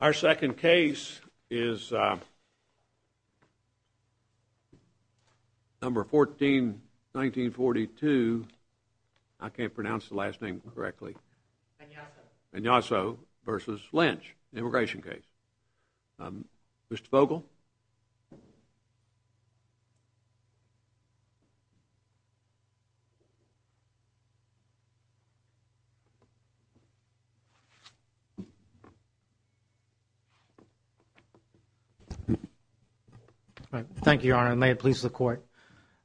Our second case is number 14, 1942. I can't pronounce the last name correctly. Anyaso v. Lynch, immigration case. Mr. Fogel? H. Glenn Fogel, Jr. Thank you, Your Honor. May it please the Court.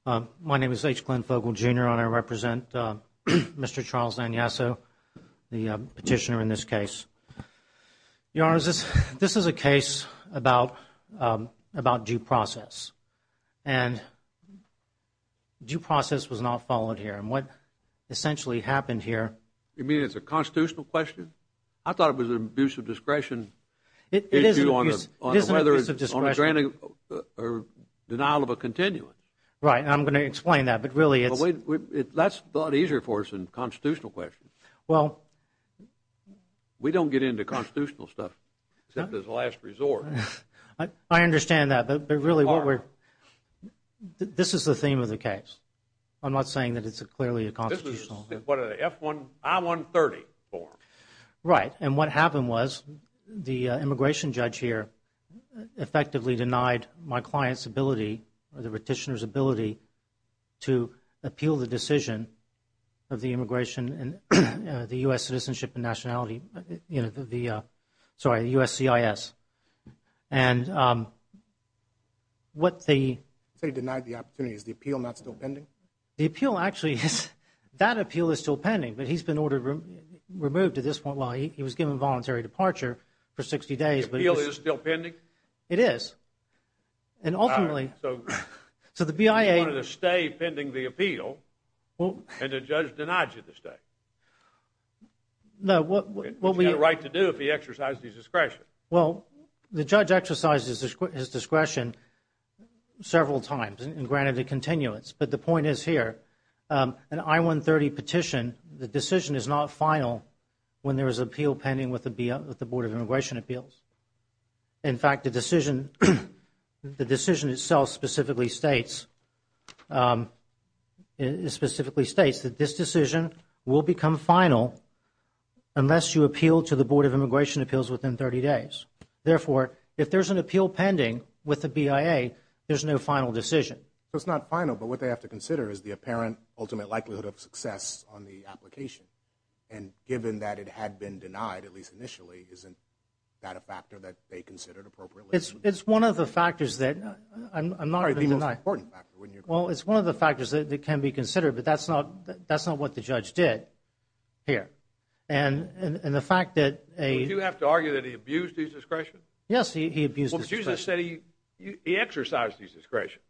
My name is H. Glenn Fogel, Jr. and I represent Mr. Charles Anyaso, the petitioner in this case. Your Honor, this is a case about due process and due process was not followed here and what essentially happened here You mean it's a constitutional question? I thought it was an abuse of discretion issue on a granting or denial of a continuance. Right, and I'm going to explain that, but really it's That's a lot easier for us than a constitutional question. We don't get into constitutional stuff except as a last resort. I understand that, but really what we're This is the theme of the case. I'm not saying that it's clearly a constitutional What are the F1, I-130 form? Right, and what happened was the immigration judge here effectively denied my client's ability or the petitioner's ability to appeal the decision of the immigration and the U.S. citizenship and nationality, sorry, the U.S.CIS. And what they They denied the opportunity. Is the appeal not still pending? The appeal actually is, that appeal is still pending, but he's been ordered, removed at this point while he was given voluntary departure for 60 days The appeal is still pending? It is. And ultimately All right, so So the BIA You wanted to stay pending the appeal and the judge denied you the stay. No, what we He's got a right to do if he exercised his discretion. Well, the judge exercised his discretion several times and granted a continuance, but the point is here An I-130 petition, the decision is not final when there is appeal pending with the BIA, with the Board of Immigration Appeals. In fact, the decision, the decision itself specifically states It specifically states that this decision will become final unless you appeal to the Board of Immigration Appeals within 30 days. Therefore, if there's an appeal pending with the BIA, there's no final decision. It's not final, but what they have to consider is the apparent ultimate likelihood of success on the application. And given that it had been denied, at least initially, isn't that a factor that they considered appropriately? It's one of the factors that I'm not going to deny. Well, it's one of the factors that can be considered, but that's not what the judge did here. And the fact that a Would you have to argue that he abused his discretion? Yes, he abused his discretion. Well, but you just said he exercised his discretion.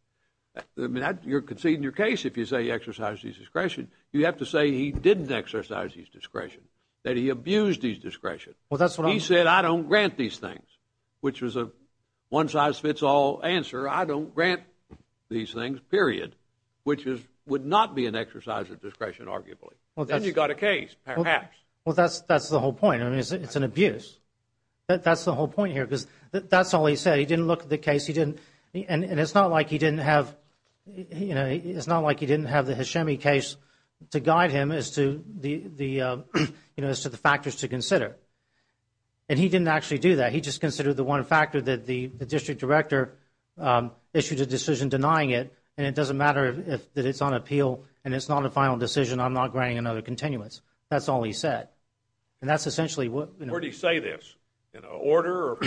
I mean, you're conceding your case if you say he exercised his discretion. You have to say he didn't exercise his discretion, that he abused his discretion. Well, that's what I'm I don't grant these things, which was a one-size-fits-all answer. I don't grant these things, period, which would not be an exercise of discretion, arguably. Then you've got a case, perhaps. Well, that's the whole point. I mean, it's an abuse. That's the whole point here, because that's all he said. He didn't look at the case. He didn't And it's not like he didn't have the Hashemi case to guide him as to the factors to consider. And he didn't actually do that. He just considered the one factor that the district director issued a decision denying it. And it doesn't matter that it's on appeal and it's not a final decision. I'm not granting another continuance. That's all he said. And that's essentially what Where did he say this? In an order?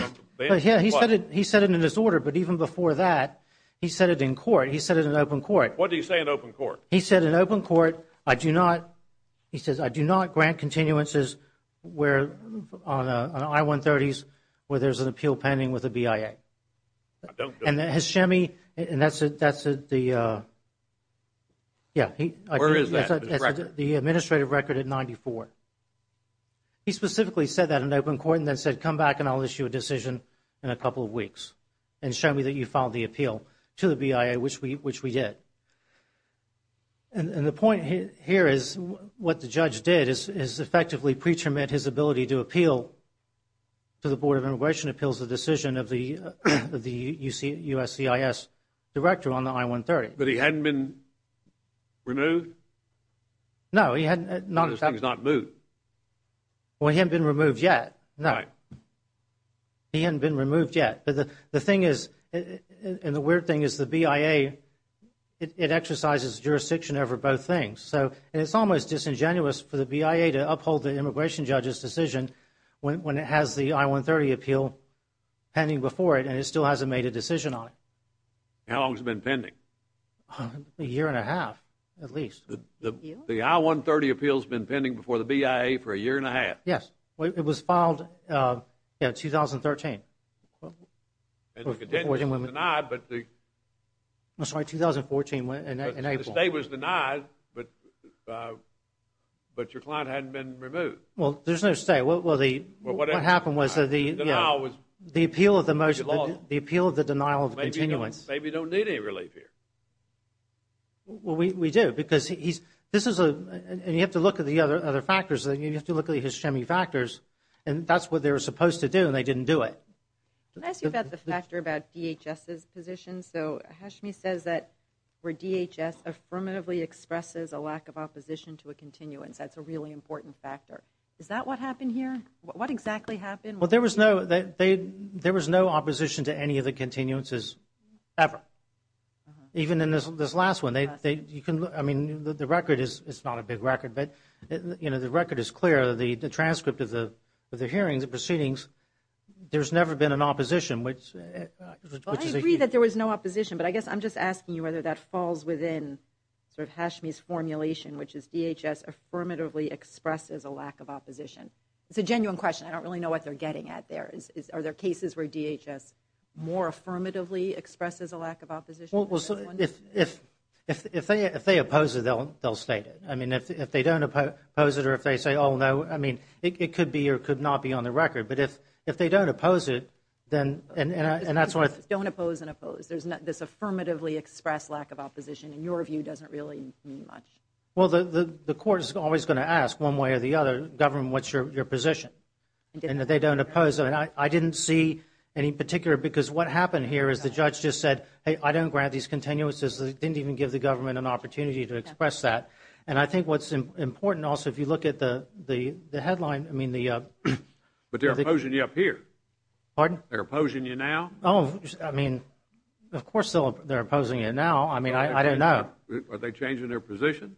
Yeah, he said it in his order. But even before that, he said it in court. He said it in open court. What did he say in open court? He said in open court, I do not grant continuances on I-130s where there's an appeal pending with the BIA. I don't do that. And Hashemi, and that's the Where is that? The administrative record at 94. He specifically said that in open court and then said, come back and I'll issue a decision in a couple of weeks and show me that you filed the appeal to the BIA, which we did. And the point here is what the judge did is effectively preterm at his ability to appeal to the Board of Immigration Appeals, the decision of the USCIS director on the I-130. But he hadn't been removed? No, he hadn't. This thing's not moved. Well, he hadn't been removed yet. No. He hadn't been removed yet. And the weird thing is the BIA, it exercises jurisdiction over both things. So it's almost disingenuous for the BIA to uphold the immigration judge's decision when it has the I-130 appeal pending before it and it still hasn't made a decision on it. How long has it been pending? A year and a half, at least. The I-130 appeal's been pending before the BIA for a year and a half? Yes. It was filed in 2013. And the continuance was denied. I'm sorry, 2014 in April. The stay was denied, but your client hadn't been removed. Well, there's no stay. What happened was the appeal of the denial of continuance. Maybe you don't need any relief here. Well, we do because this is a – and you have to look at the other factors. You have to look at the Hashemi factors, and that's what they were supposed to do and they didn't do it. Can I ask you about the factor about DHS's position? So Hashemi says that where DHS affirmatively expresses a lack of opposition to a continuance, that's a really important factor. Is that what happened here? What exactly happened? Well, there was no opposition to any of the continuances ever, even in this last one. I mean, the record is not a big record, but, you know, the record is clear. The transcript of the hearings, the proceedings, there's never been an opposition. Well, I agree that there was no opposition, but I guess I'm just asking you whether that falls within sort of Hashemi's formulation, which is DHS affirmatively expresses a lack of opposition. It's a genuine question. I don't really know what they're getting at there. Are there cases where DHS more affirmatively expresses a lack of opposition? Well, if they oppose it, they'll state it. I mean, if they don't oppose it or if they say, oh, no. I mean, it could be or could not be on the record. But if they don't oppose it, then – Don't oppose and oppose. There's this affirmatively expressed lack of opposition, and your view doesn't really mean much. Well, the court is always going to ask one way or the other, government, what's your position? And if they don't oppose it, I didn't see any particular, because what happened here is the judge just said, hey, I don't grant these continuances. They didn't even give the government an opportunity to express that. And I think what's important also, if you look at the headline, I mean the – But they're opposing you up here. Pardon? They're opposing you now. Oh, I mean, of course they're opposing it now. I mean, I don't know. Are they changing their position?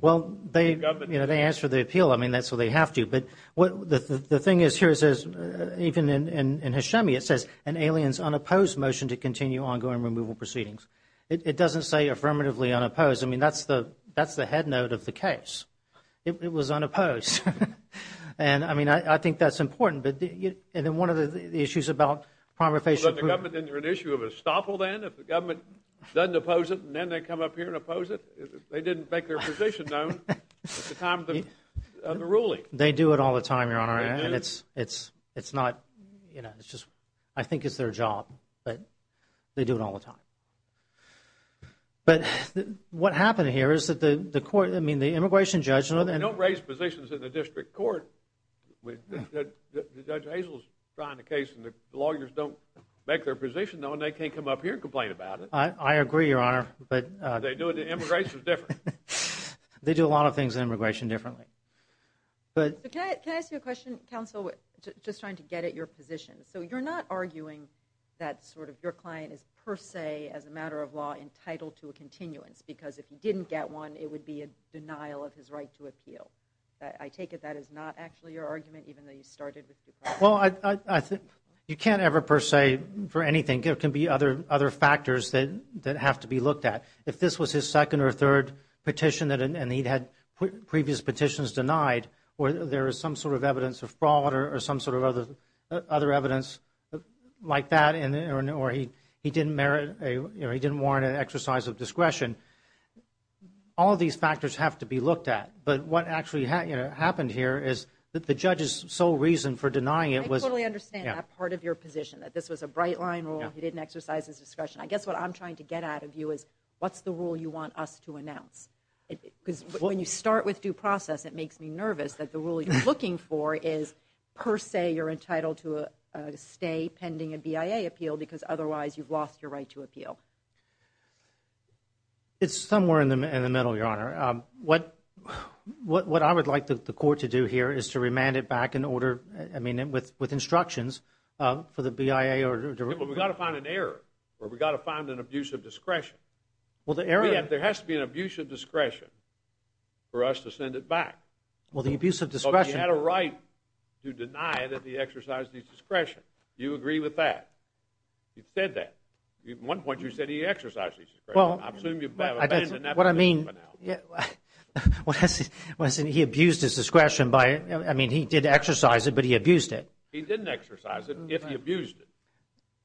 Well, they, you know, they answered the appeal. I mean, that's what they have to. But the thing is, here it says, even in Hashemi, it says, an alien's unopposed motion to continue ongoing removal proceedings. It doesn't say affirmatively unopposed. I mean, that's the head note of the case. It was unopposed. And, I mean, I think that's important. And then one of the issues about primary face approval. Is that the government, then, they're an issue of estoppel then, if the government doesn't oppose it and then they come up here and oppose it? They didn't make their position known at the time of the ruling. They do it all the time, Your Honor. They do? And it's not, you know, it's just, I think it's their job. But they do it all the time. But what happened here is that the court, I mean, the immigration judge. Well, they don't raise positions in the district court. Judge Hazel's trying a case and the lawyers don't make their position known. They can't come up here and complain about it. I agree, Your Honor. But they do it, the immigration's different. They do a lot of things in immigration differently. Can I ask you a question, counsel? Just trying to get at your position. So you're not arguing that sort of your client is per se, as a matter of law, entitled to a continuance. Because if he didn't get one, it would be a denial of his right to appeal. I take it that is not actually your argument, even though you started with your client. Well, you can't ever per se for anything. There can be other factors that have to be looked at. If this was his second or third petition and he'd had previous petitions denied or there is some sort of evidence of fraud or some sort of other evidence like that or he didn't warrant an exercise of discretion, all these factors have to be looked at. But what actually happened here is that the judge's sole reason for denying it was – I totally understand that part of your position, that this was a bright-line rule. He didn't exercise his discretion. I guess what I'm trying to get out of you is what's the rule you want us to announce? Because when you start with due process, it makes me nervous that the rule you're looking for is per se you're entitled to stay pending a BIA appeal because otherwise you've lost your right to appeal. It's somewhere in the middle, Your Honor. What I would like the court to do here is to remand it back in order – I mean, with instructions for the BIA. We've got to find an error or we've got to find an abuse of discretion. Well, the error – There has to be an abuse of discretion for us to send it back. Well, the abuse of discretion – He had a right to deny that he exercised his discretion. Do you agree with that? He said that. At one point you said he exercised his discretion. I assume you've abandoned that. What I mean – What I'm saying is he abused his discretion by – I mean, he did exercise it, but he abused it. He didn't exercise it if he abused it.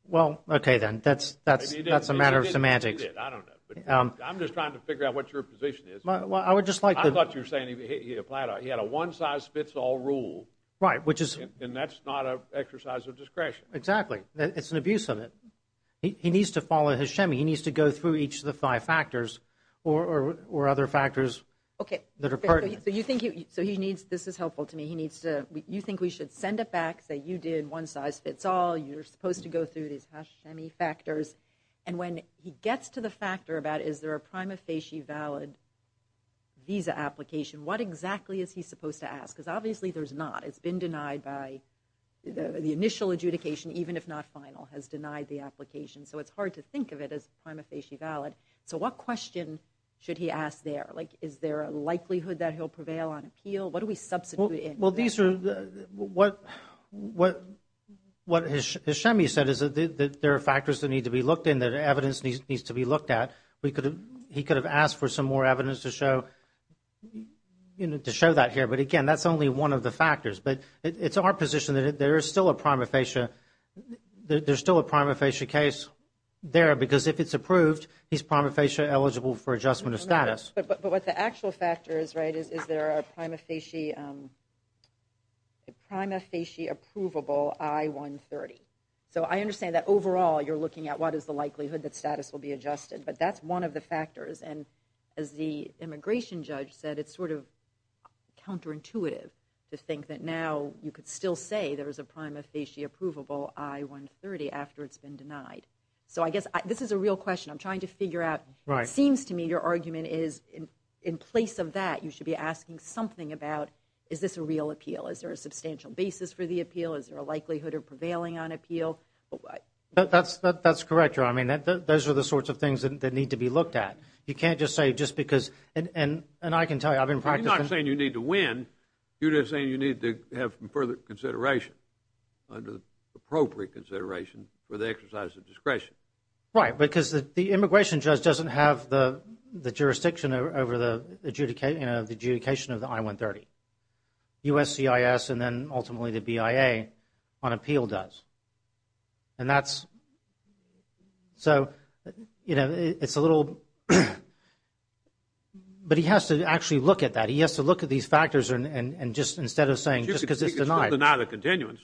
Well, okay then. That's a matter of semantics. I don't know. I'm just trying to figure out what your position is. Well, I would just like the – I thought you were saying he had a one-size-fits-all rule. Right, which is – And that's not an exercise of discretion. Exactly. It's an abuse of it. He needs to follow his shimmy. He needs to go through each of the five factors or other factors that are pertinent. Okay. So you think he – so he needs – this is helpful to me. He needs to – you think we should send it back, say you did one-size-fits-all, you're supposed to go through these hashimmy factors. And when he gets to the factor about is there a prima facie valid visa application, what exactly is he supposed to ask? Because obviously there's not. It's been denied by – the initial adjudication, even if not final, has denied the application. So it's hard to think of it as prima facie valid. So what question should he ask there? Like is there a likelihood that he'll prevail on appeal? What do we substitute in? Well, these are – what his shimmy said is that there are factors that need to be looked in, that evidence needs to be looked at. He could have asked for some more evidence to show that here. But, again, that's only one of the factors. But it's our position that there is still a prima facie – there's still a prima facie case there because if it's approved, he's prima facie eligible for adjustment of status. But what the actual factor is, right, is there a prima facie approvable I-130. So I understand that overall you're looking at what is the likelihood that status will be adjusted. But that's one of the factors. And as the immigration judge said, it's sort of counterintuitive to think that now you could still say there is a prima facie approvable I-130 after it's been denied. So I guess this is a real question. I'm trying to figure out. It seems to me your argument is in place of that you should be asking something about is this a real appeal. Is there a substantial basis for the appeal? Is there a likelihood of prevailing on appeal? That's correct. I mean, those are the sorts of things that need to be looked at. You can't just say just because – and I can tell you, I've been practicing. You're not saying you need to win. You're just saying you need to have further consideration, appropriate consideration for the exercise of discretion. Right, because the immigration judge doesn't have the jurisdiction over the adjudication of the I-130. USCIS and then ultimately the BIA on appeal does. And that's – so, you know, it's a little – but he has to actually look at that. He has to look at these factors and just instead of saying just because it's denied. He could still deny the continuance.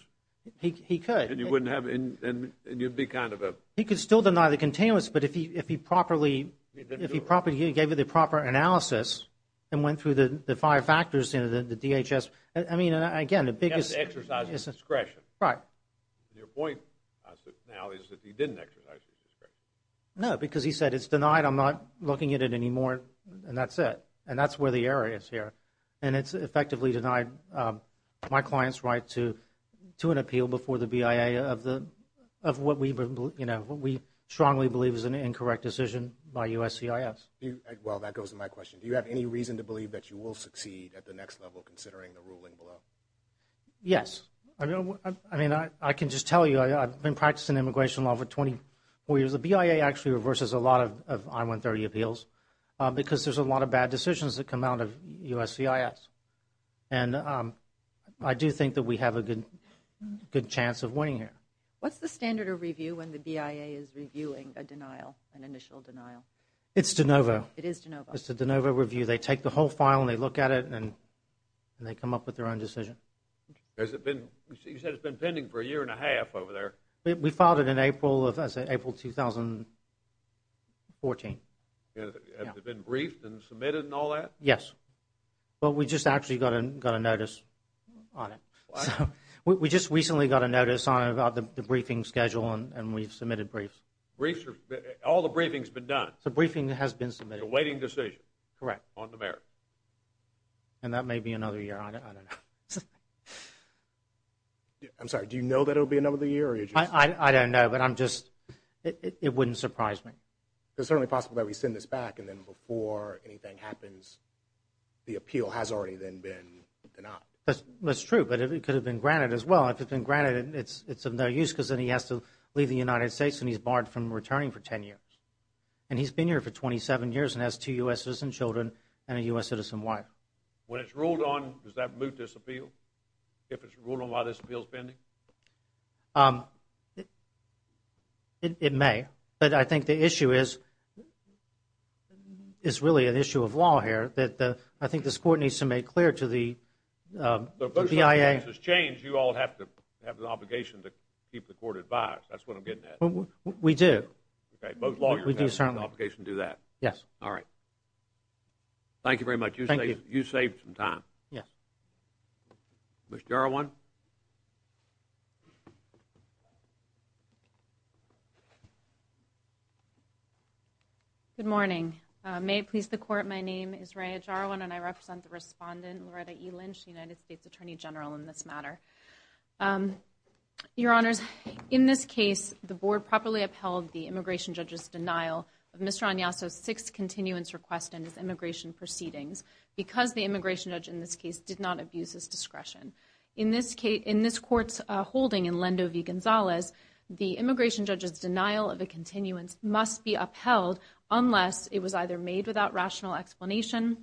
He could. And you wouldn't have – and you'd be kind of a – He could still deny the continuance, but if he properly – if he gave you the proper analysis and went through the five factors, the DHS – I mean, again, the biggest – He has to exercise his discretion. Right. Your point now is that he didn't exercise his discretion. No, because he said it's denied. I'm not looking at it anymore, and that's it. And that's where the error is here. And it's effectively denied my client's right to an appeal before the BIA of what we strongly believe is an incorrect decision by USCIS. Well, that goes to my question. Do you have any reason to believe that you will succeed at the next level considering the ruling below? Yes. I mean, I can just tell you I've been practicing immigration law for 24 years. The BIA actually reverses a lot of I-130 appeals because there's a lot of bad decisions that come out of USCIS. And I do think that we have a good chance of winning here. What's the standard of review when the BIA is reviewing a denial, an initial denial? It's de novo. It is de novo. It's a de novo review. They take the whole file, and they look at it, and they come up with their own decision. Has it been – you said it's been pending for a year and a half over there. We filed it in April of – I said April 2014. Has it been briefed and submitted and all that? Yes. But we just actually got a notice on it. What? We just recently got a notice on it about the briefing schedule, and we've submitted briefs. Briefs are – all the briefing's been done? The briefing has been submitted. The waiting decision? Correct. On the merit? And that may be another year. I don't know. I'm sorry. Do you know that it will be another year? I don't know, but I'm just – it wouldn't surprise me. It's certainly possible that we send this back, and then before anything happens, the appeal has already then been denied. That's true, but it could have been granted as well. If it's been granted, it's of no use because then he has to leave the United States, and he's barred from returning for 10 years. And he's been here for 27 years and has two U.S. citizen children and a U.S. citizen wife. When it's ruled on, does that move this appeal? If it's ruled on why this appeal's pending? It may. It may. But I think the issue is really an issue of law here. I think this Court needs to make clear to the BIA – If this changes, you all have the obligation to keep the Court advised. That's what I'm getting at. We do. Okay. Both lawyers have the obligation to do that. Yes. All right. Thank you very much. Thank you. You saved some time. Yes. Ms. Jarwan? Good morning. May it please the Court, my name is Raya Jarwan, and I represent the respondent, Loretta E. Lynch, United States Attorney General, in this matter. Your Honors, in this case, the Board properly upheld the immigration judge's denial of Mr. Agnasso's six continuance requests and his immigration proceedings. Because the immigration judge in this case did not abuse his discretion. In this Court's holding in Lendo v. Gonzalez, the immigration judge's denial of a continuance must be upheld unless it was either made without rational explanation,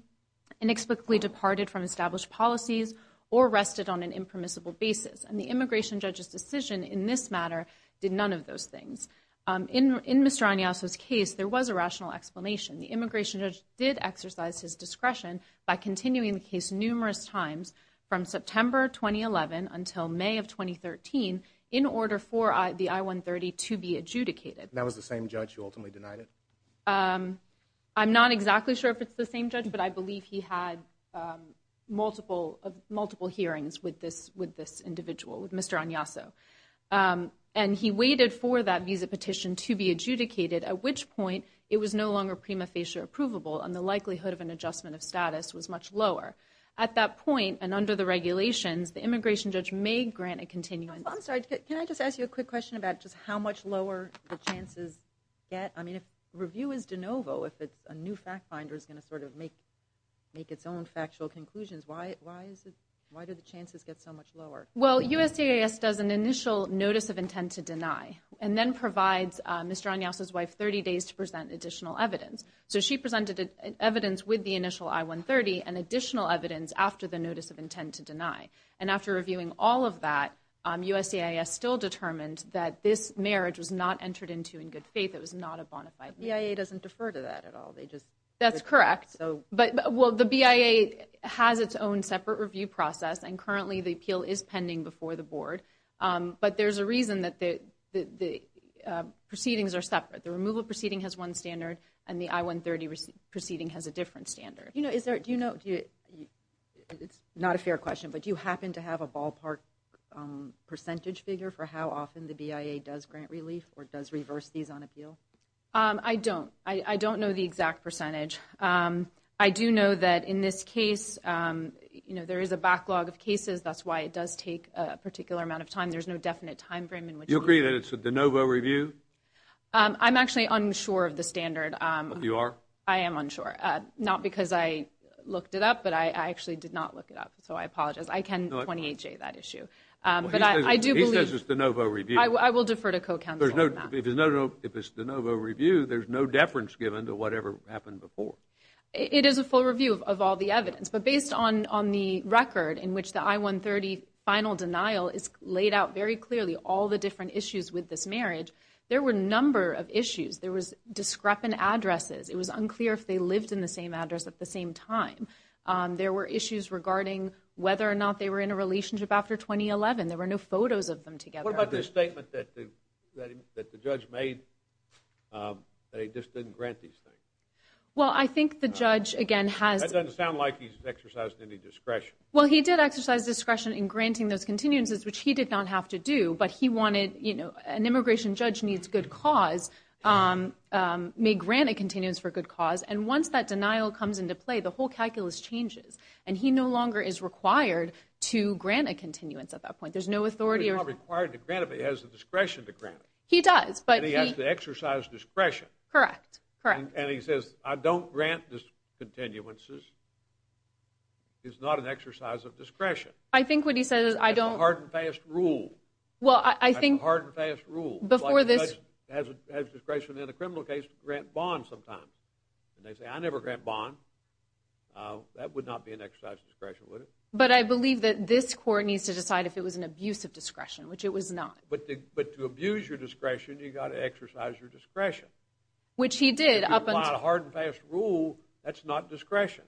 inexplicably departed from established policies, or rested on an impermissible basis. And the immigration judge's decision in this matter did none of those things. In Mr. Agnasso's case, there was a rational explanation. The immigration judge did exercise his discretion by continuing the case numerous times from September 2011 until May of 2013 in order for the I-130 to be adjudicated. That was the same judge who ultimately denied it? I'm not exactly sure if it's the same judge, but I believe he had multiple hearings with this individual, with Mr. Agnasso. And he waited for that visa petition to be adjudicated, at which point it was no longer prima facie approvable, and the likelihood of an adjustment of status was much lower. At that point, and under the regulations, the immigration judge may grant a continuance. I'm sorry, can I just ask you a quick question about just how much lower the chances get? I mean, if review is de novo, if a new fact finder is going to sort of make its own factual conclusions, why do the chances get so much lower? Well, USCIS does an initial notice of intent to deny, and then provides Mr. Agnasso's wife 30 days to present additional evidence. So she presented evidence with the initial I-130 and additional evidence after the notice of intent to deny. And after reviewing all of that, USCIS still determined that this marriage was not entered into in good faith. It was not a bona fide marriage. The BIA doesn't defer to that at all? That's correct. Well, the BIA has its own separate review process, and currently the appeal is pending before the board. But there's a reason that the proceedings are separate. The removal proceeding has one standard, and the I-130 proceeding has a different standard. Do you know, it's not a fair question, but do you happen to have a ballpark percentage figure for how often the BIA does grant relief or does reverse these on appeal? I don't. I don't know the exact percentage. I do know that in this case, you know, there is a backlog of cases. That's why it does take a particular amount of time. There's no definite time frame in which to do that. Do you agree that it's a de novo review? I'm actually unsure of the standard. You are? I am unsure. Not because I looked it up, but I actually did not look it up, so I apologize. I can 28-J that issue. But I do believe – He says it's a de novo review. I will defer to co-counsel on that. If it's a de novo review, there's no deference given to whatever happened before. It is a full review of all the evidence. But based on the record in which the I-130 final denial is laid out very clearly, all the different issues with this marriage, there were a number of issues. There was discrepant addresses. It was unclear if they lived in the same address at the same time. There were issues regarding whether or not they were in a relationship after 2011. There were no photos of them together. What about this statement that the judge made that he just didn't grant these things? Well, I think the judge, again, has – Well, he did exercise discretion in granting those continuances, which he did not have to do, but he wanted – an immigration judge needs good cause, may grant a continuance for good cause. And once that denial comes into play, the whole calculus changes, and he no longer is required to grant a continuance at that point. There's no authority or – He's not required to grant it, but he has the discretion to grant it. He does, but he – And he has to exercise discretion. Correct, correct. And he says, I don't grant discontinuances. It's not an exercise of discretion. I think what he says is I don't – It's a hard and fast rule. Well, I think – It's a hard and fast rule. Before this – The judge has discretion in a criminal case to grant bonds sometimes. And they say, I never grant bonds. That would not be an exercise of discretion, would it? But I believe that this court needs to decide if it was an abuse of discretion, which it was not. But to abuse your discretion, you've got to exercise your discretion. Which he did. If you apply a hard and fast rule, that's not discretion.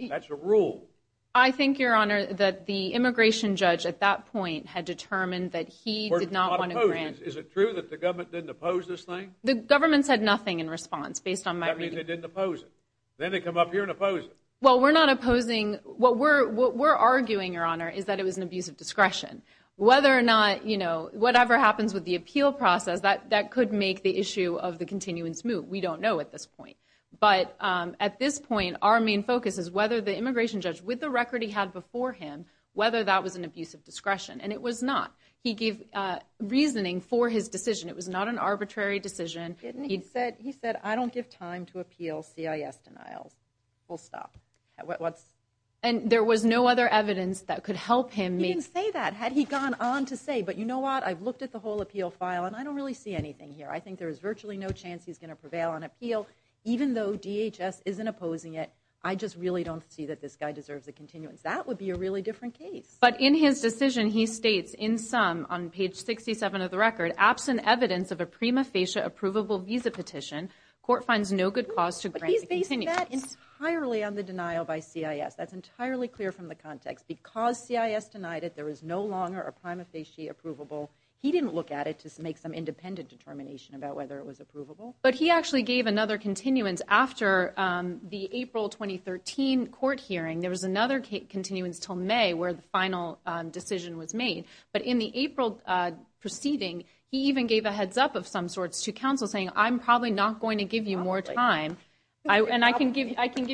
That's a rule. I think, Your Honor, that the immigration judge at that point had determined that he did not want to grant – Is it true that the government didn't oppose this thing? The government said nothing in response, based on my reading. That means they didn't oppose it. Then they come up here and oppose it. Well, we're not opposing – What we're arguing, Your Honor, is that it was an abuse of discretion. Whether or not – Whatever happens with the appeal process, that could make the issue of the continuance move. We don't know at this point. But at this point, our main focus is whether the immigration judge, with the record he had before him, whether that was an abuse of discretion. And it was not. He gave reasoning for his decision. It was not an arbitrary decision. He said, I don't give time to appeal CIS denials. Full stop. And there was no other evidence that could help him make – say that, had he gone on to say, but you know what? I've looked at the whole appeal file, and I don't really see anything here. I think there is virtually no chance he's going to prevail on appeal. Even though DHS isn't opposing it, I just really don't see that this guy deserves a continuance. That would be a really different case. But in his decision, he states, in sum, on page 67 of the record, absent evidence of a prima facie approvable visa petition, court finds no good cause to grant the continuance. But he's based that entirely on the denial by CIS. That's entirely clear from the context. Because CIS denied it, there is no longer a prima facie approvable. He didn't look at it to make some independent determination about whether it was approvable. But he actually gave another continuance after the April 2013 court hearing. There was another continuance until May, where the final decision was made. But in the April proceeding, he even gave a heads-up of some sorts to counsel, saying, I'm probably not going to give you more time. And I can give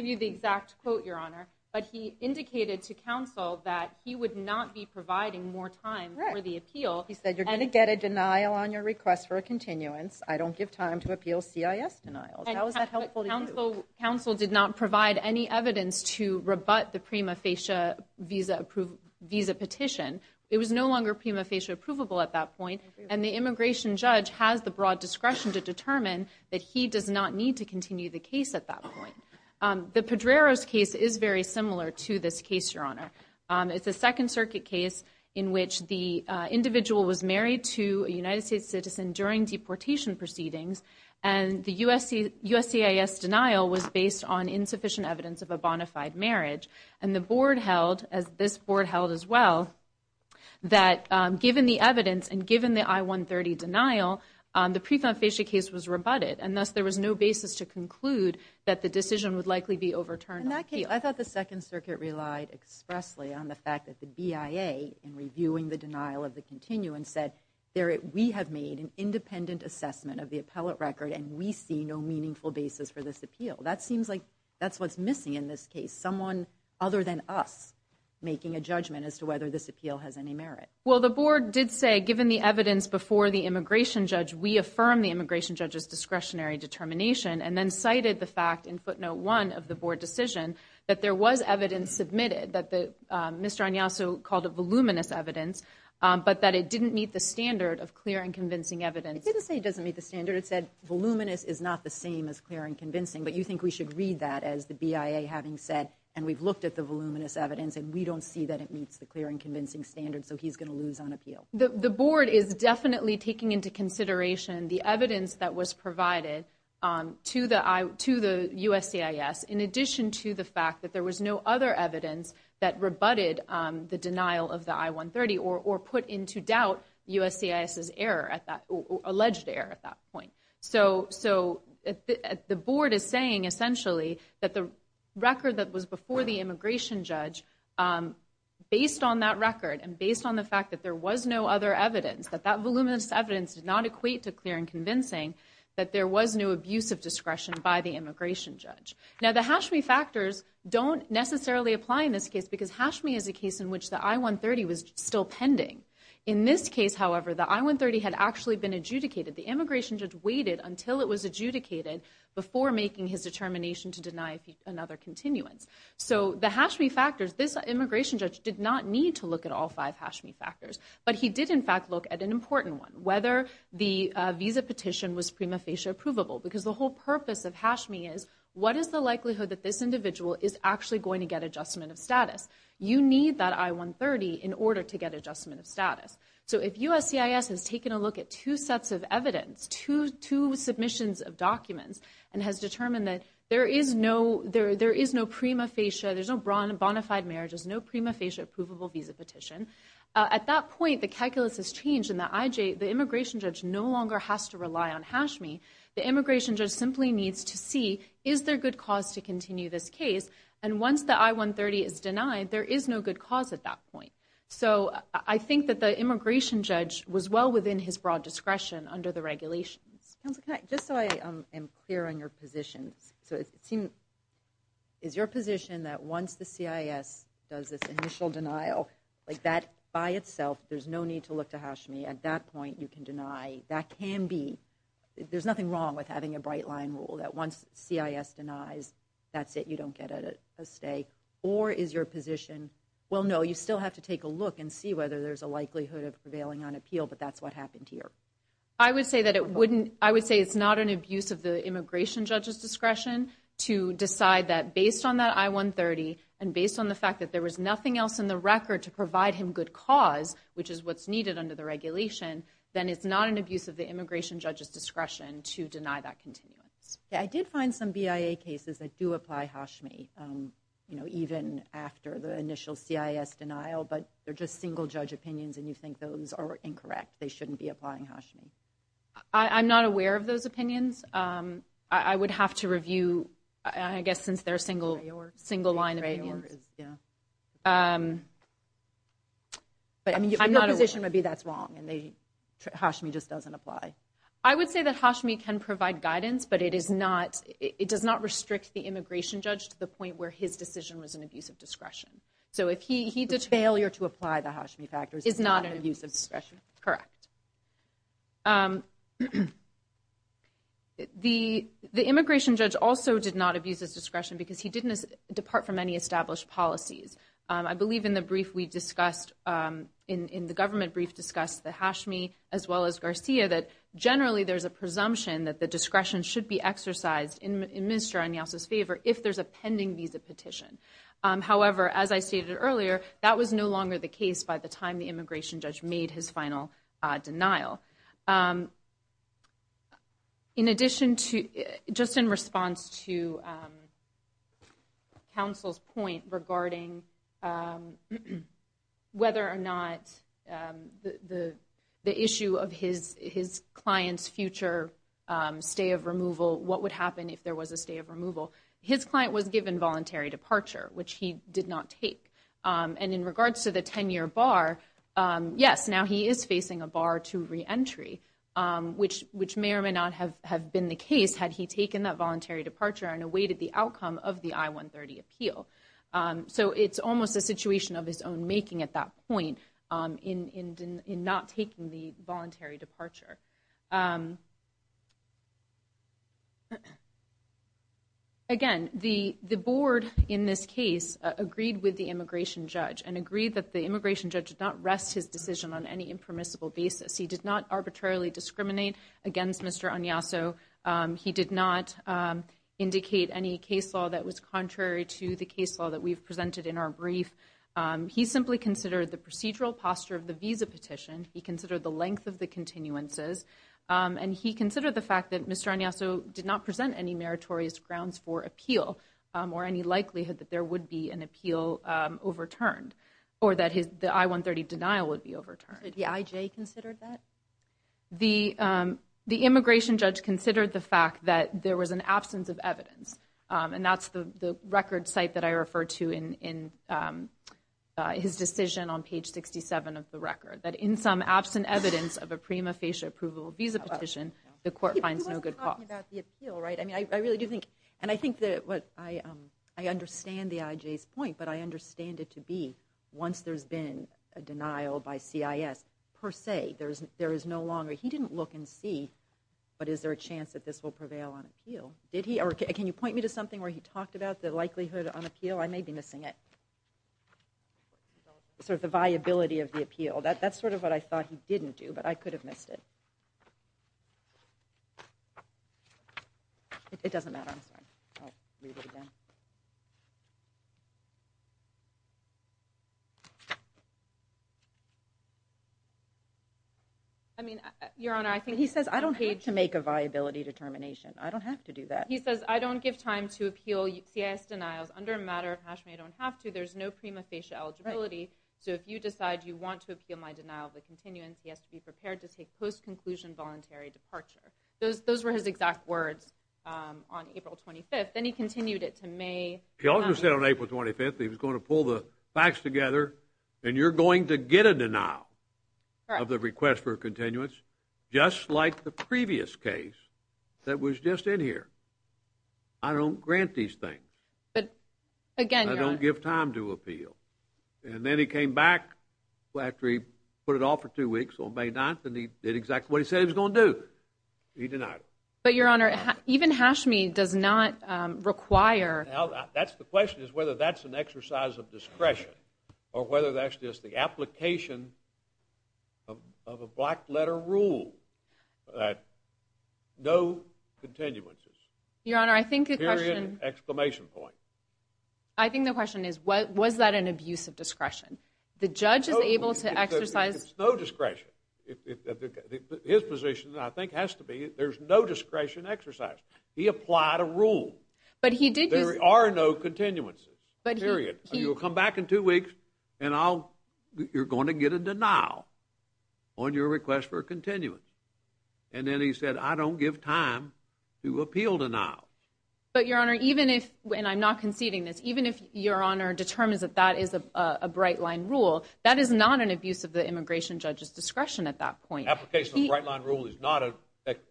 you the exact quote, Your Honor. But he indicated to counsel that he would not be providing more time for the appeal. He said, you're going to get a denial on your request for a continuance. I don't give time to appeal CIS denials. How is that helpful to you? Counsel did not provide any evidence to rebut the prima facie visa petition. It was no longer prima facie approvable at that point. And the immigration judge has the broad discretion to determine that he does not need to continue the case at that point. The Pedrero's case is very similar to this case, Your Honor. It's a Second Circuit case in which the individual was married to a United States citizen during deportation proceedings. And the USCIS denial was based on insufficient evidence of a bona fide marriage. And the board held, as this board held as well, that given the evidence and given the I-130 denial, the prima facie case was rebutted. And thus, there was no basis to conclude that the decision would likely be overturned. In that case, I thought the Second Circuit relied expressly on the fact that the BIA, in reviewing the denial of the continuance, said we have made an independent assessment of the appellate record and we see no meaningful basis for this appeal. That seems like that's what's missing in this case, someone other than us making a judgment as to whether this appeal has any merit. Well, the board did say, given the evidence before the immigration judge, we affirm the immigration judge's discretionary determination, and then cited the fact in footnote one of the board decision that there was evidence submitted, that Mr. Agnassu called it voluminous evidence, but that it didn't meet the standard of clear and convincing evidence. It didn't say it doesn't meet the standard. It said voluminous is not the same as clear and convincing. But you think we should read that as the BIA having said, and we've looked at the voluminous evidence, and we don't see that it meets the clear and convincing standard, so he's going to lose on appeal. The board is definitely taking into consideration the evidence that was provided to the USCIS, in addition to the fact that there was no other evidence that rebutted the denial of the I-130 or put into doubt USCIS's error, alleged error at that point. So the board is saying, essentially, that the record that was before the immigration judge, based on that record and based on the fact that there was no other evidence, that that voluminous evidence did not equate to clear and convincing, that there was no abuse of discretion by the immigration judge. Now, the Hashmi factors don't necessarily apply in this case, because Hashmi is a case in which the I-130 was still pending. In this case, however, the I-130 had actually been adjudicated. The immigration judge waited until it was adjudicated before making his determination to deny another continuance. So the Hashmi factors, this immigration judge did not need to look at all five Hashmi factors, but he did, in fact, look at an important one, whether the visa petition was prima facie approvable, because the whole purpose of Hashmi is, what is the likelihood that this individual is actually going to get adjustment of status? You need that I-130 in order to get adjustment of status. So if USCIS has taken a look at two sets of evidence, two submissions of documents, and has determined that there is no prima facie, there's no bona fide marriages, no prima facie approvable visa petition, at that point, the calculus has changed, and the immigration judge no longer has to rely on Hashmi. The immigration judge simply needs to see, is there good cause to continue this case? And once the I-130 is denied, there is no good cause at that point. So I think that the immigration judge was well within his broad discretion under the regulations. Counsel, can I, just so I am clear on your position, so it seems, is your position that once the CIS does this initial denial, like that by itself, there's no need to look to Hashmi, at that point you can deny, that can be, there's nothing wrong with having a bright line rule, that once CIS denies, that's it, you don't get a stay, or is your position, well, no, you still have to take a look and see whether there's a likelihood of prevailing on appeal, but that's what happened here. I would say that it wouldn't, I would say it's not an abuse of the immigration judge's discretion to decide that based on that I-130, and based on the fact that there was nothing else in the record to provide him good cause, which is what's needed under the regulation, then it's not an abuse of the immigration judge's discretion to deny that continuance. I did find some BIA cases that do apply Hashmi, you know, even after the initial CIS denial, but they're just single-judge opinions, and you think those are incorrect, they shouldn't be applying Hashmi. I'm not aware of those opinions. I would have to review, I guess, since they're single-line opinions. But your position would be that's wrong, and Hashmi just doesn't apply. I would say that Hashmi can provide guidance, but it does not restrict the immigration judge to the point where his decision was an abuse of discretion. The failure to apply the Hashmi factors is not an abuse of discretion? Correct. The immigration judge also did not abuse his discretion because he didn't depart from any established policies. I believe in the brief we discussed, in the government brief discussed the Hashmi as well as Garcia, that generally there's a presumption that the discretion should be exercised in Mr. Añez's favor if there's a pending visa petition. However, as I stated earlier, that was no longer the case by the time the immigration judge made his final denial. In addition to, just in response to counsel's point regarding whether or not the issue of his client's future stay of removal, what would happen if there was a stay of removal, his client was given voluntary departure, which he did not take. And in regards to the 10-year bar, yes, now he is facing a bar to reentry, which may or may not have been the case had he taken that voluntary departure and awaited the outcome of the I-130 appeal. So it's almost a situation of his own making at that point in not taking the voluntary departure. Again, the board in this case agreed with the immigration judge and agreed that the immigration judge did not rest his decision on any impermissible basis. He did not arbitrarily discriminate against Mr. Añez. He did not indicate any case law that was contrary to the case law that we've presented in our brief. He simply considered the procedural posture of the visa petition. He considered the length of the continuances. And he considered the fact that Mr. Añez did not present any meritorious grounds for appeal or any likelihood that there would be an appeal overturned or that the I-130 denial would be overturned. Did the IJ consider that? The immigration judge considered the fact that there was an absence of evidence, and that's the record site that I refer to in his decision on page 67 of the record, that in some absent evidence of a prima facie approval visa petition, the court finds no good cause. He wasn't talking about the appeal, right? I mean, I really do think, and I think that what I understand the IJ's point, but I understand it to be once there's been a denial by CIS per se, there is no longer, he didn't look and see, but is there a chance that this will prevail on appeal? Did he, or can you point me to something where he talked about the likelihood on appeal? I may be missing it. Sort of the viability of the appeal. That's sort of what I thought he didn't do, but I could have missed it. It doesn't matter. I'm sorry. I'll read it again. I mean, Your Honor, I think the page- He says, I don't have to make a viability determination. I don't have to do that. He says, I don't give time to appeal CIS denials. Under a matter of hash may I don't have to, there's no prima facie eligibility, so if you decide you want to appeal my denial of the continuance, he has to be prepared to take post-conclusion voluntary departure. Those were his exact words on April 25th. Then he continued it to May- He also said on April 25th he was going to pull the facts together, and you're going to get a denial of the request for continuance, just like the previous case that was just in here. I don't grant these things. But, again, Your Honor- I don't give time to appeal. And then he came back after he put it off for two weeks on May 9th, and he did exactly what he said he was going to do. He denied it. But, Your Honor, even hash may does not require- That's the question, is whether that's an exercise of discretion, or whether that's just the application of a black-letter rule that no continuances. Your Honor, I think the question- I think the question is, was that an abuse of discretion? The judge is able to exercise- It's no discretion. His position, I think, has to be there's no discretion exercise. He applied a rule. There are no continuances, period. You'll come back in two weeks, and you're going to get a denial on your request for continuance. And then he said, I don't give time to appeal denial. But, Your Honor, even if-and I'm not conceding this- even if Your Honor determines that that is a bright-line rule, that is not an abuse of the immigration judge's discretion at that point. Application of a bright-line rule is not an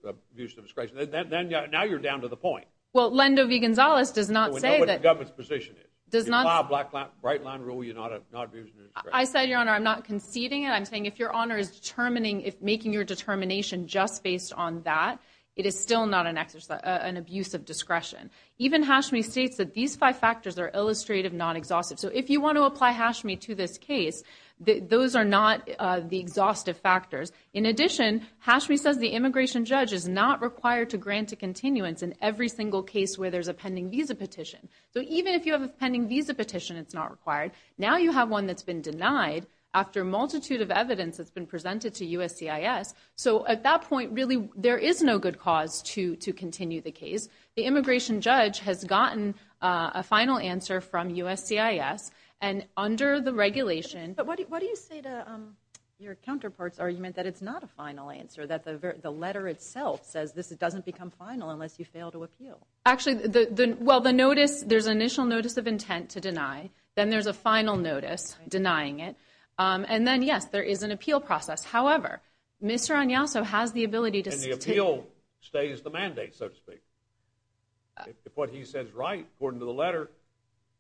abuse of discretion. Now you're down to the point. Well, Lendo V. Gonzalez does not say that- We know what the government's position is. If you apply a bright-line rule, you're not abusing discretion. I said, Your Honor, I'm not conceding it. I'm saying if Your Honor is making your determination just based on that, it is still not an abuse of discretion. Even Hashmi states that these five factors are illustrative, not exhaustive. So if you want to apply Hashmi to this case, those are not the exhaustive factors. In addition, Hashmi says the immigration judge is not required to grant a continuance in every single case where there's a pending visa petition. So even if you have a pending visa petition, it's not required. Now you have one that's been denied after a multitude of evidence that's been presented to USCIS. So at that point, really, there is no good cause to continue the case. The immigration judge has gotten a final answer from USCIS, and under the regulation- But what do you say to your counterpart's argument that it's not a final answer, that the letter itself says this doesn't become final unless you fail to appeal? Actually, well, the notice, there's an initial notice of intent to deny. Then there's a final notice denying it. And then, yes, there is an appeal process. However, Mr. Agnoso has the ability to- And the appeal stays the mandate, so to speak. If what he says is right, according to the letter,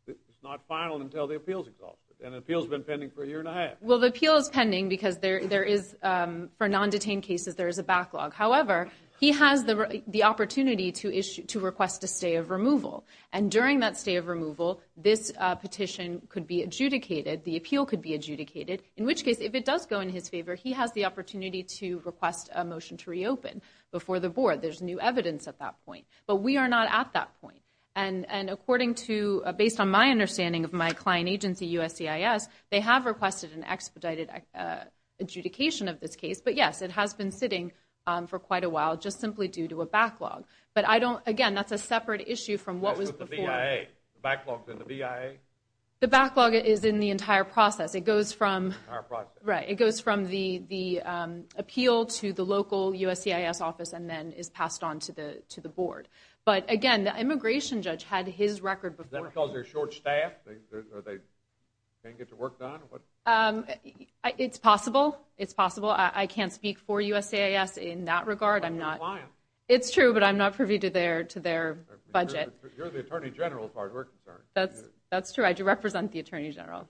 it's not final until the appeal is exhausted. And the appeal has been pending for a year and a half. Well, the appeal is pending because there is, for non-detained cases, there is a backlog. However, he has the opportunity to request a stay of removal. And during that stay of removal, this petition could be adjudicated, the appeal could be adjudicated, in which case, if it does go in his favor, he has the opportunity to request a motion to reopen before the board. There's new evidence at that point. But we are not at that point. And according to-based on my understanding of my client agency, USCIS, they have requested an expedited adjudication of this case. But, yes, it has been sitting for quite a while just simply due to a backlog. But I don't-again, that's a separate issue from what was before. What about the BIA? The backlog to the BIA? The backlog is in the entire process. It goes from- In the entire process. Right. It goes from the appeal to the local USCIS office and then is passed on to the board. But, again, the immigration judge had his record before. Is that because they're short-staffed or they can't get their work done? It's possible. It's possible. I can't speak for USCIS in that regard. But you're a client. It's true, but I'm not privy to their budget. You're the attorney general as far as we're concerned. That's true. I do represent the attorney general.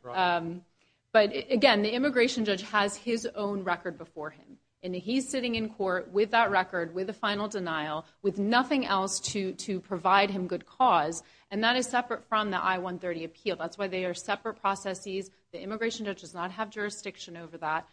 But, again, the immigration judge has his own record before him. And he's sitting in court with that record, with a final denial, with nothing else to provide him good cause. And that is separate from the I-130 appeal. That's why they are separate processes. The immigration judge does not have jurisdiction over that.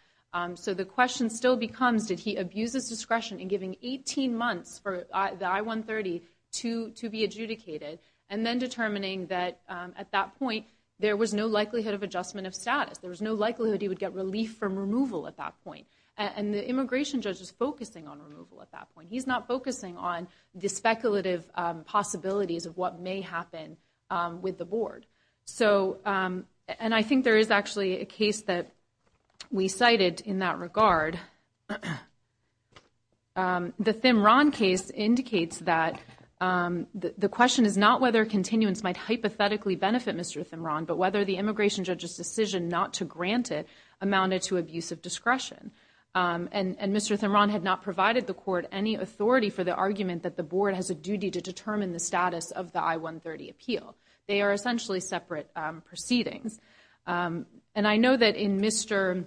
So the question still becomes did he abuse his discretion in giving 18 months for the I-130 to be adjudicated and then determining that at that point there was no likelihood of adjustment of status. There was no likelihood he would get relief from removal at that point. And the immigration judge is focusing on removal at that point. He's not focusing on the speculative possibilities of what may happen with the board. And I think there is actually a case that we cited in that regard. The Thim Rahn case indicates that the question is not whether continuance might hypothetically benefit Mr. Thim Rahn, but whether the immigration judge's decision not to grant it amounted to abuse of discretion. And Mr. Thim Rahn had not provided the court any authority for the argument that the board has a duty to determine the status of the I-130 appeal. They are essentially separate proceedings. And I know that in Mr.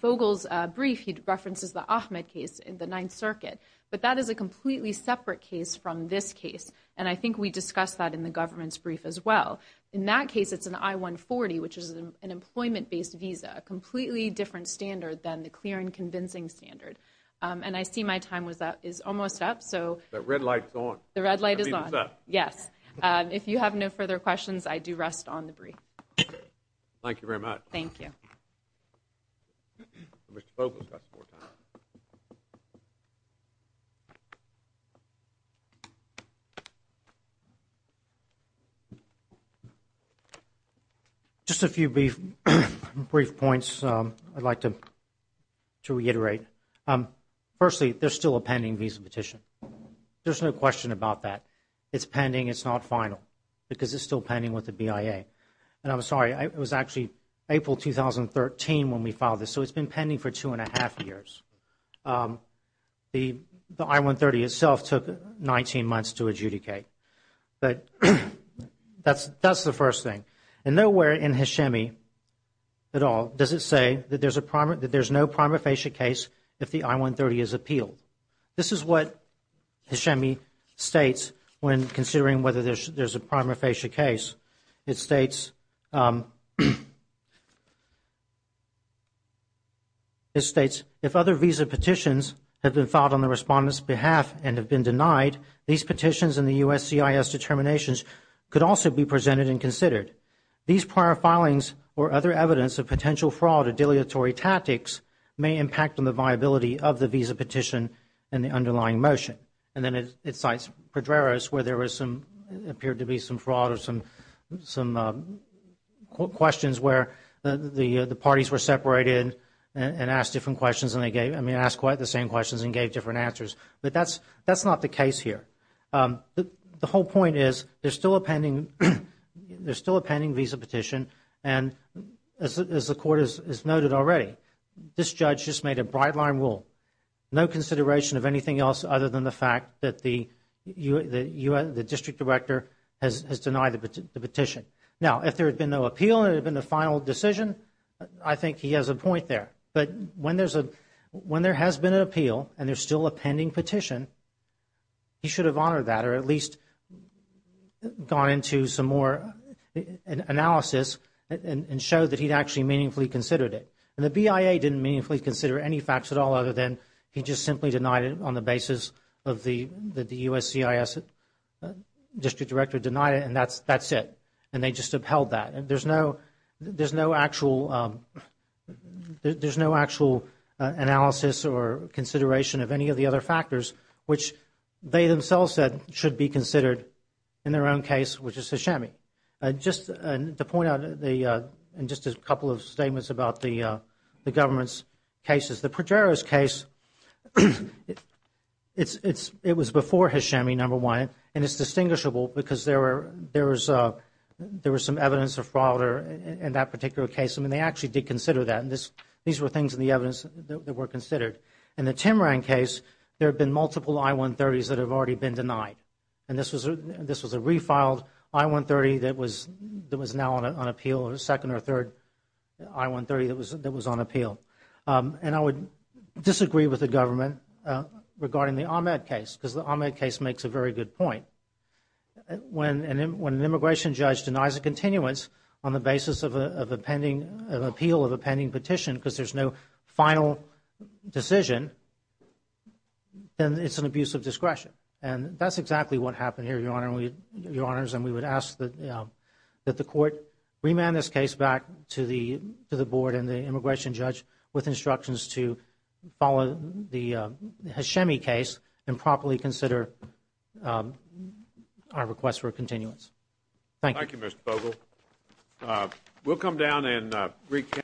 Fogle's brief, he references the Ahmed case in the Ninth Circuit. But that is a completely separate case from this case. And I think we discussed that in the government's brief as well. In that case, it's an I-140, which is an employment-based visa, a completely different standard than the clear and convincing standard. And I see my time is almost up. The red light is on. The red light is on. Yes. If you have no further questions, I do rest on the brief. Thank you very much. Thank you. Just a few brief points I'd like to reiterate. Firstly, there's still a pending visa petition. There's no question about that. It's pending. It's not final because it's still pending with the BIA. And I'm sorry. It was actually April 2013 when we filed this. So it's been pending for two and a half years. The I-130 itself took 19 months to adjudicate. But that's the first thing. And nowhere in Hashemi at all does it say that there's no prima facie case if the I-130 is appealed. This is what Hashemi states when considering whether there's a prima facie case. It states, if other visa petitions have been filed on the respondent's behalf and have been denied, these petitions and the USCIS determinations could also be presented and considered. These prior filings or other evidence of potential fraud or deletery tactics may impact on the viability of the visa petition and the underlying motion. And then it cites Pedreros where there appeared to be some fraud or some questions where the parties were separated and asked different questions. And they asked quite the same questions and gave different answers. But that's not the case here. The whole point is there's still a pending visa petition. And as the court has noted already, this judge just made a bright line rule. No consideration of anything else other than the fact that the district director has denied the petition. Now, if there had been no appeal and it had been a final decision, I think he has a point there. But when there has been an appeal and there's still a pending petition, he should have honored that or at least gone into some more analysis and showed that he'd actually meaningfully considered it. And the BIA didn't meaningfully consider any facts at all other than he just simply denied it on the basis that the USCIS district director denied it and that's it. And they just upheld that. There's no actual analysis or consideration of any of the other factors, which they themselves said should be considered in their own case, which is Hashemi. Just to point out in just a couple of statements about the government's cases, the Progeros case, it was before Hashemi, number one. And it's distinguishable because there was some evidence of fraud in that particular case. I mean, they actually did consider that. These were things in the evidence that were considered. In the Timran case, there have been multiple I-130s that have already been denied. And this was a refiled I-130 that was now on appeal, the second or third I-130 that was on appeal. And I would disagree with the government regarding the Ahmed case because the Ahmed case makes a very good point. When an immigration judge denies a continuance on the basis of an appeal of a pending petition because there's no final decision, then it's an abuse of discretion. And that's exactly what happened here, Your Honor. And we would ask that the court remand this case back to the board and the immigration judge with instructions to follow the Hashemi case and properly consider our request for a continuance. Thank you. Thank you, Mr. Bogle. We'll come down and recap.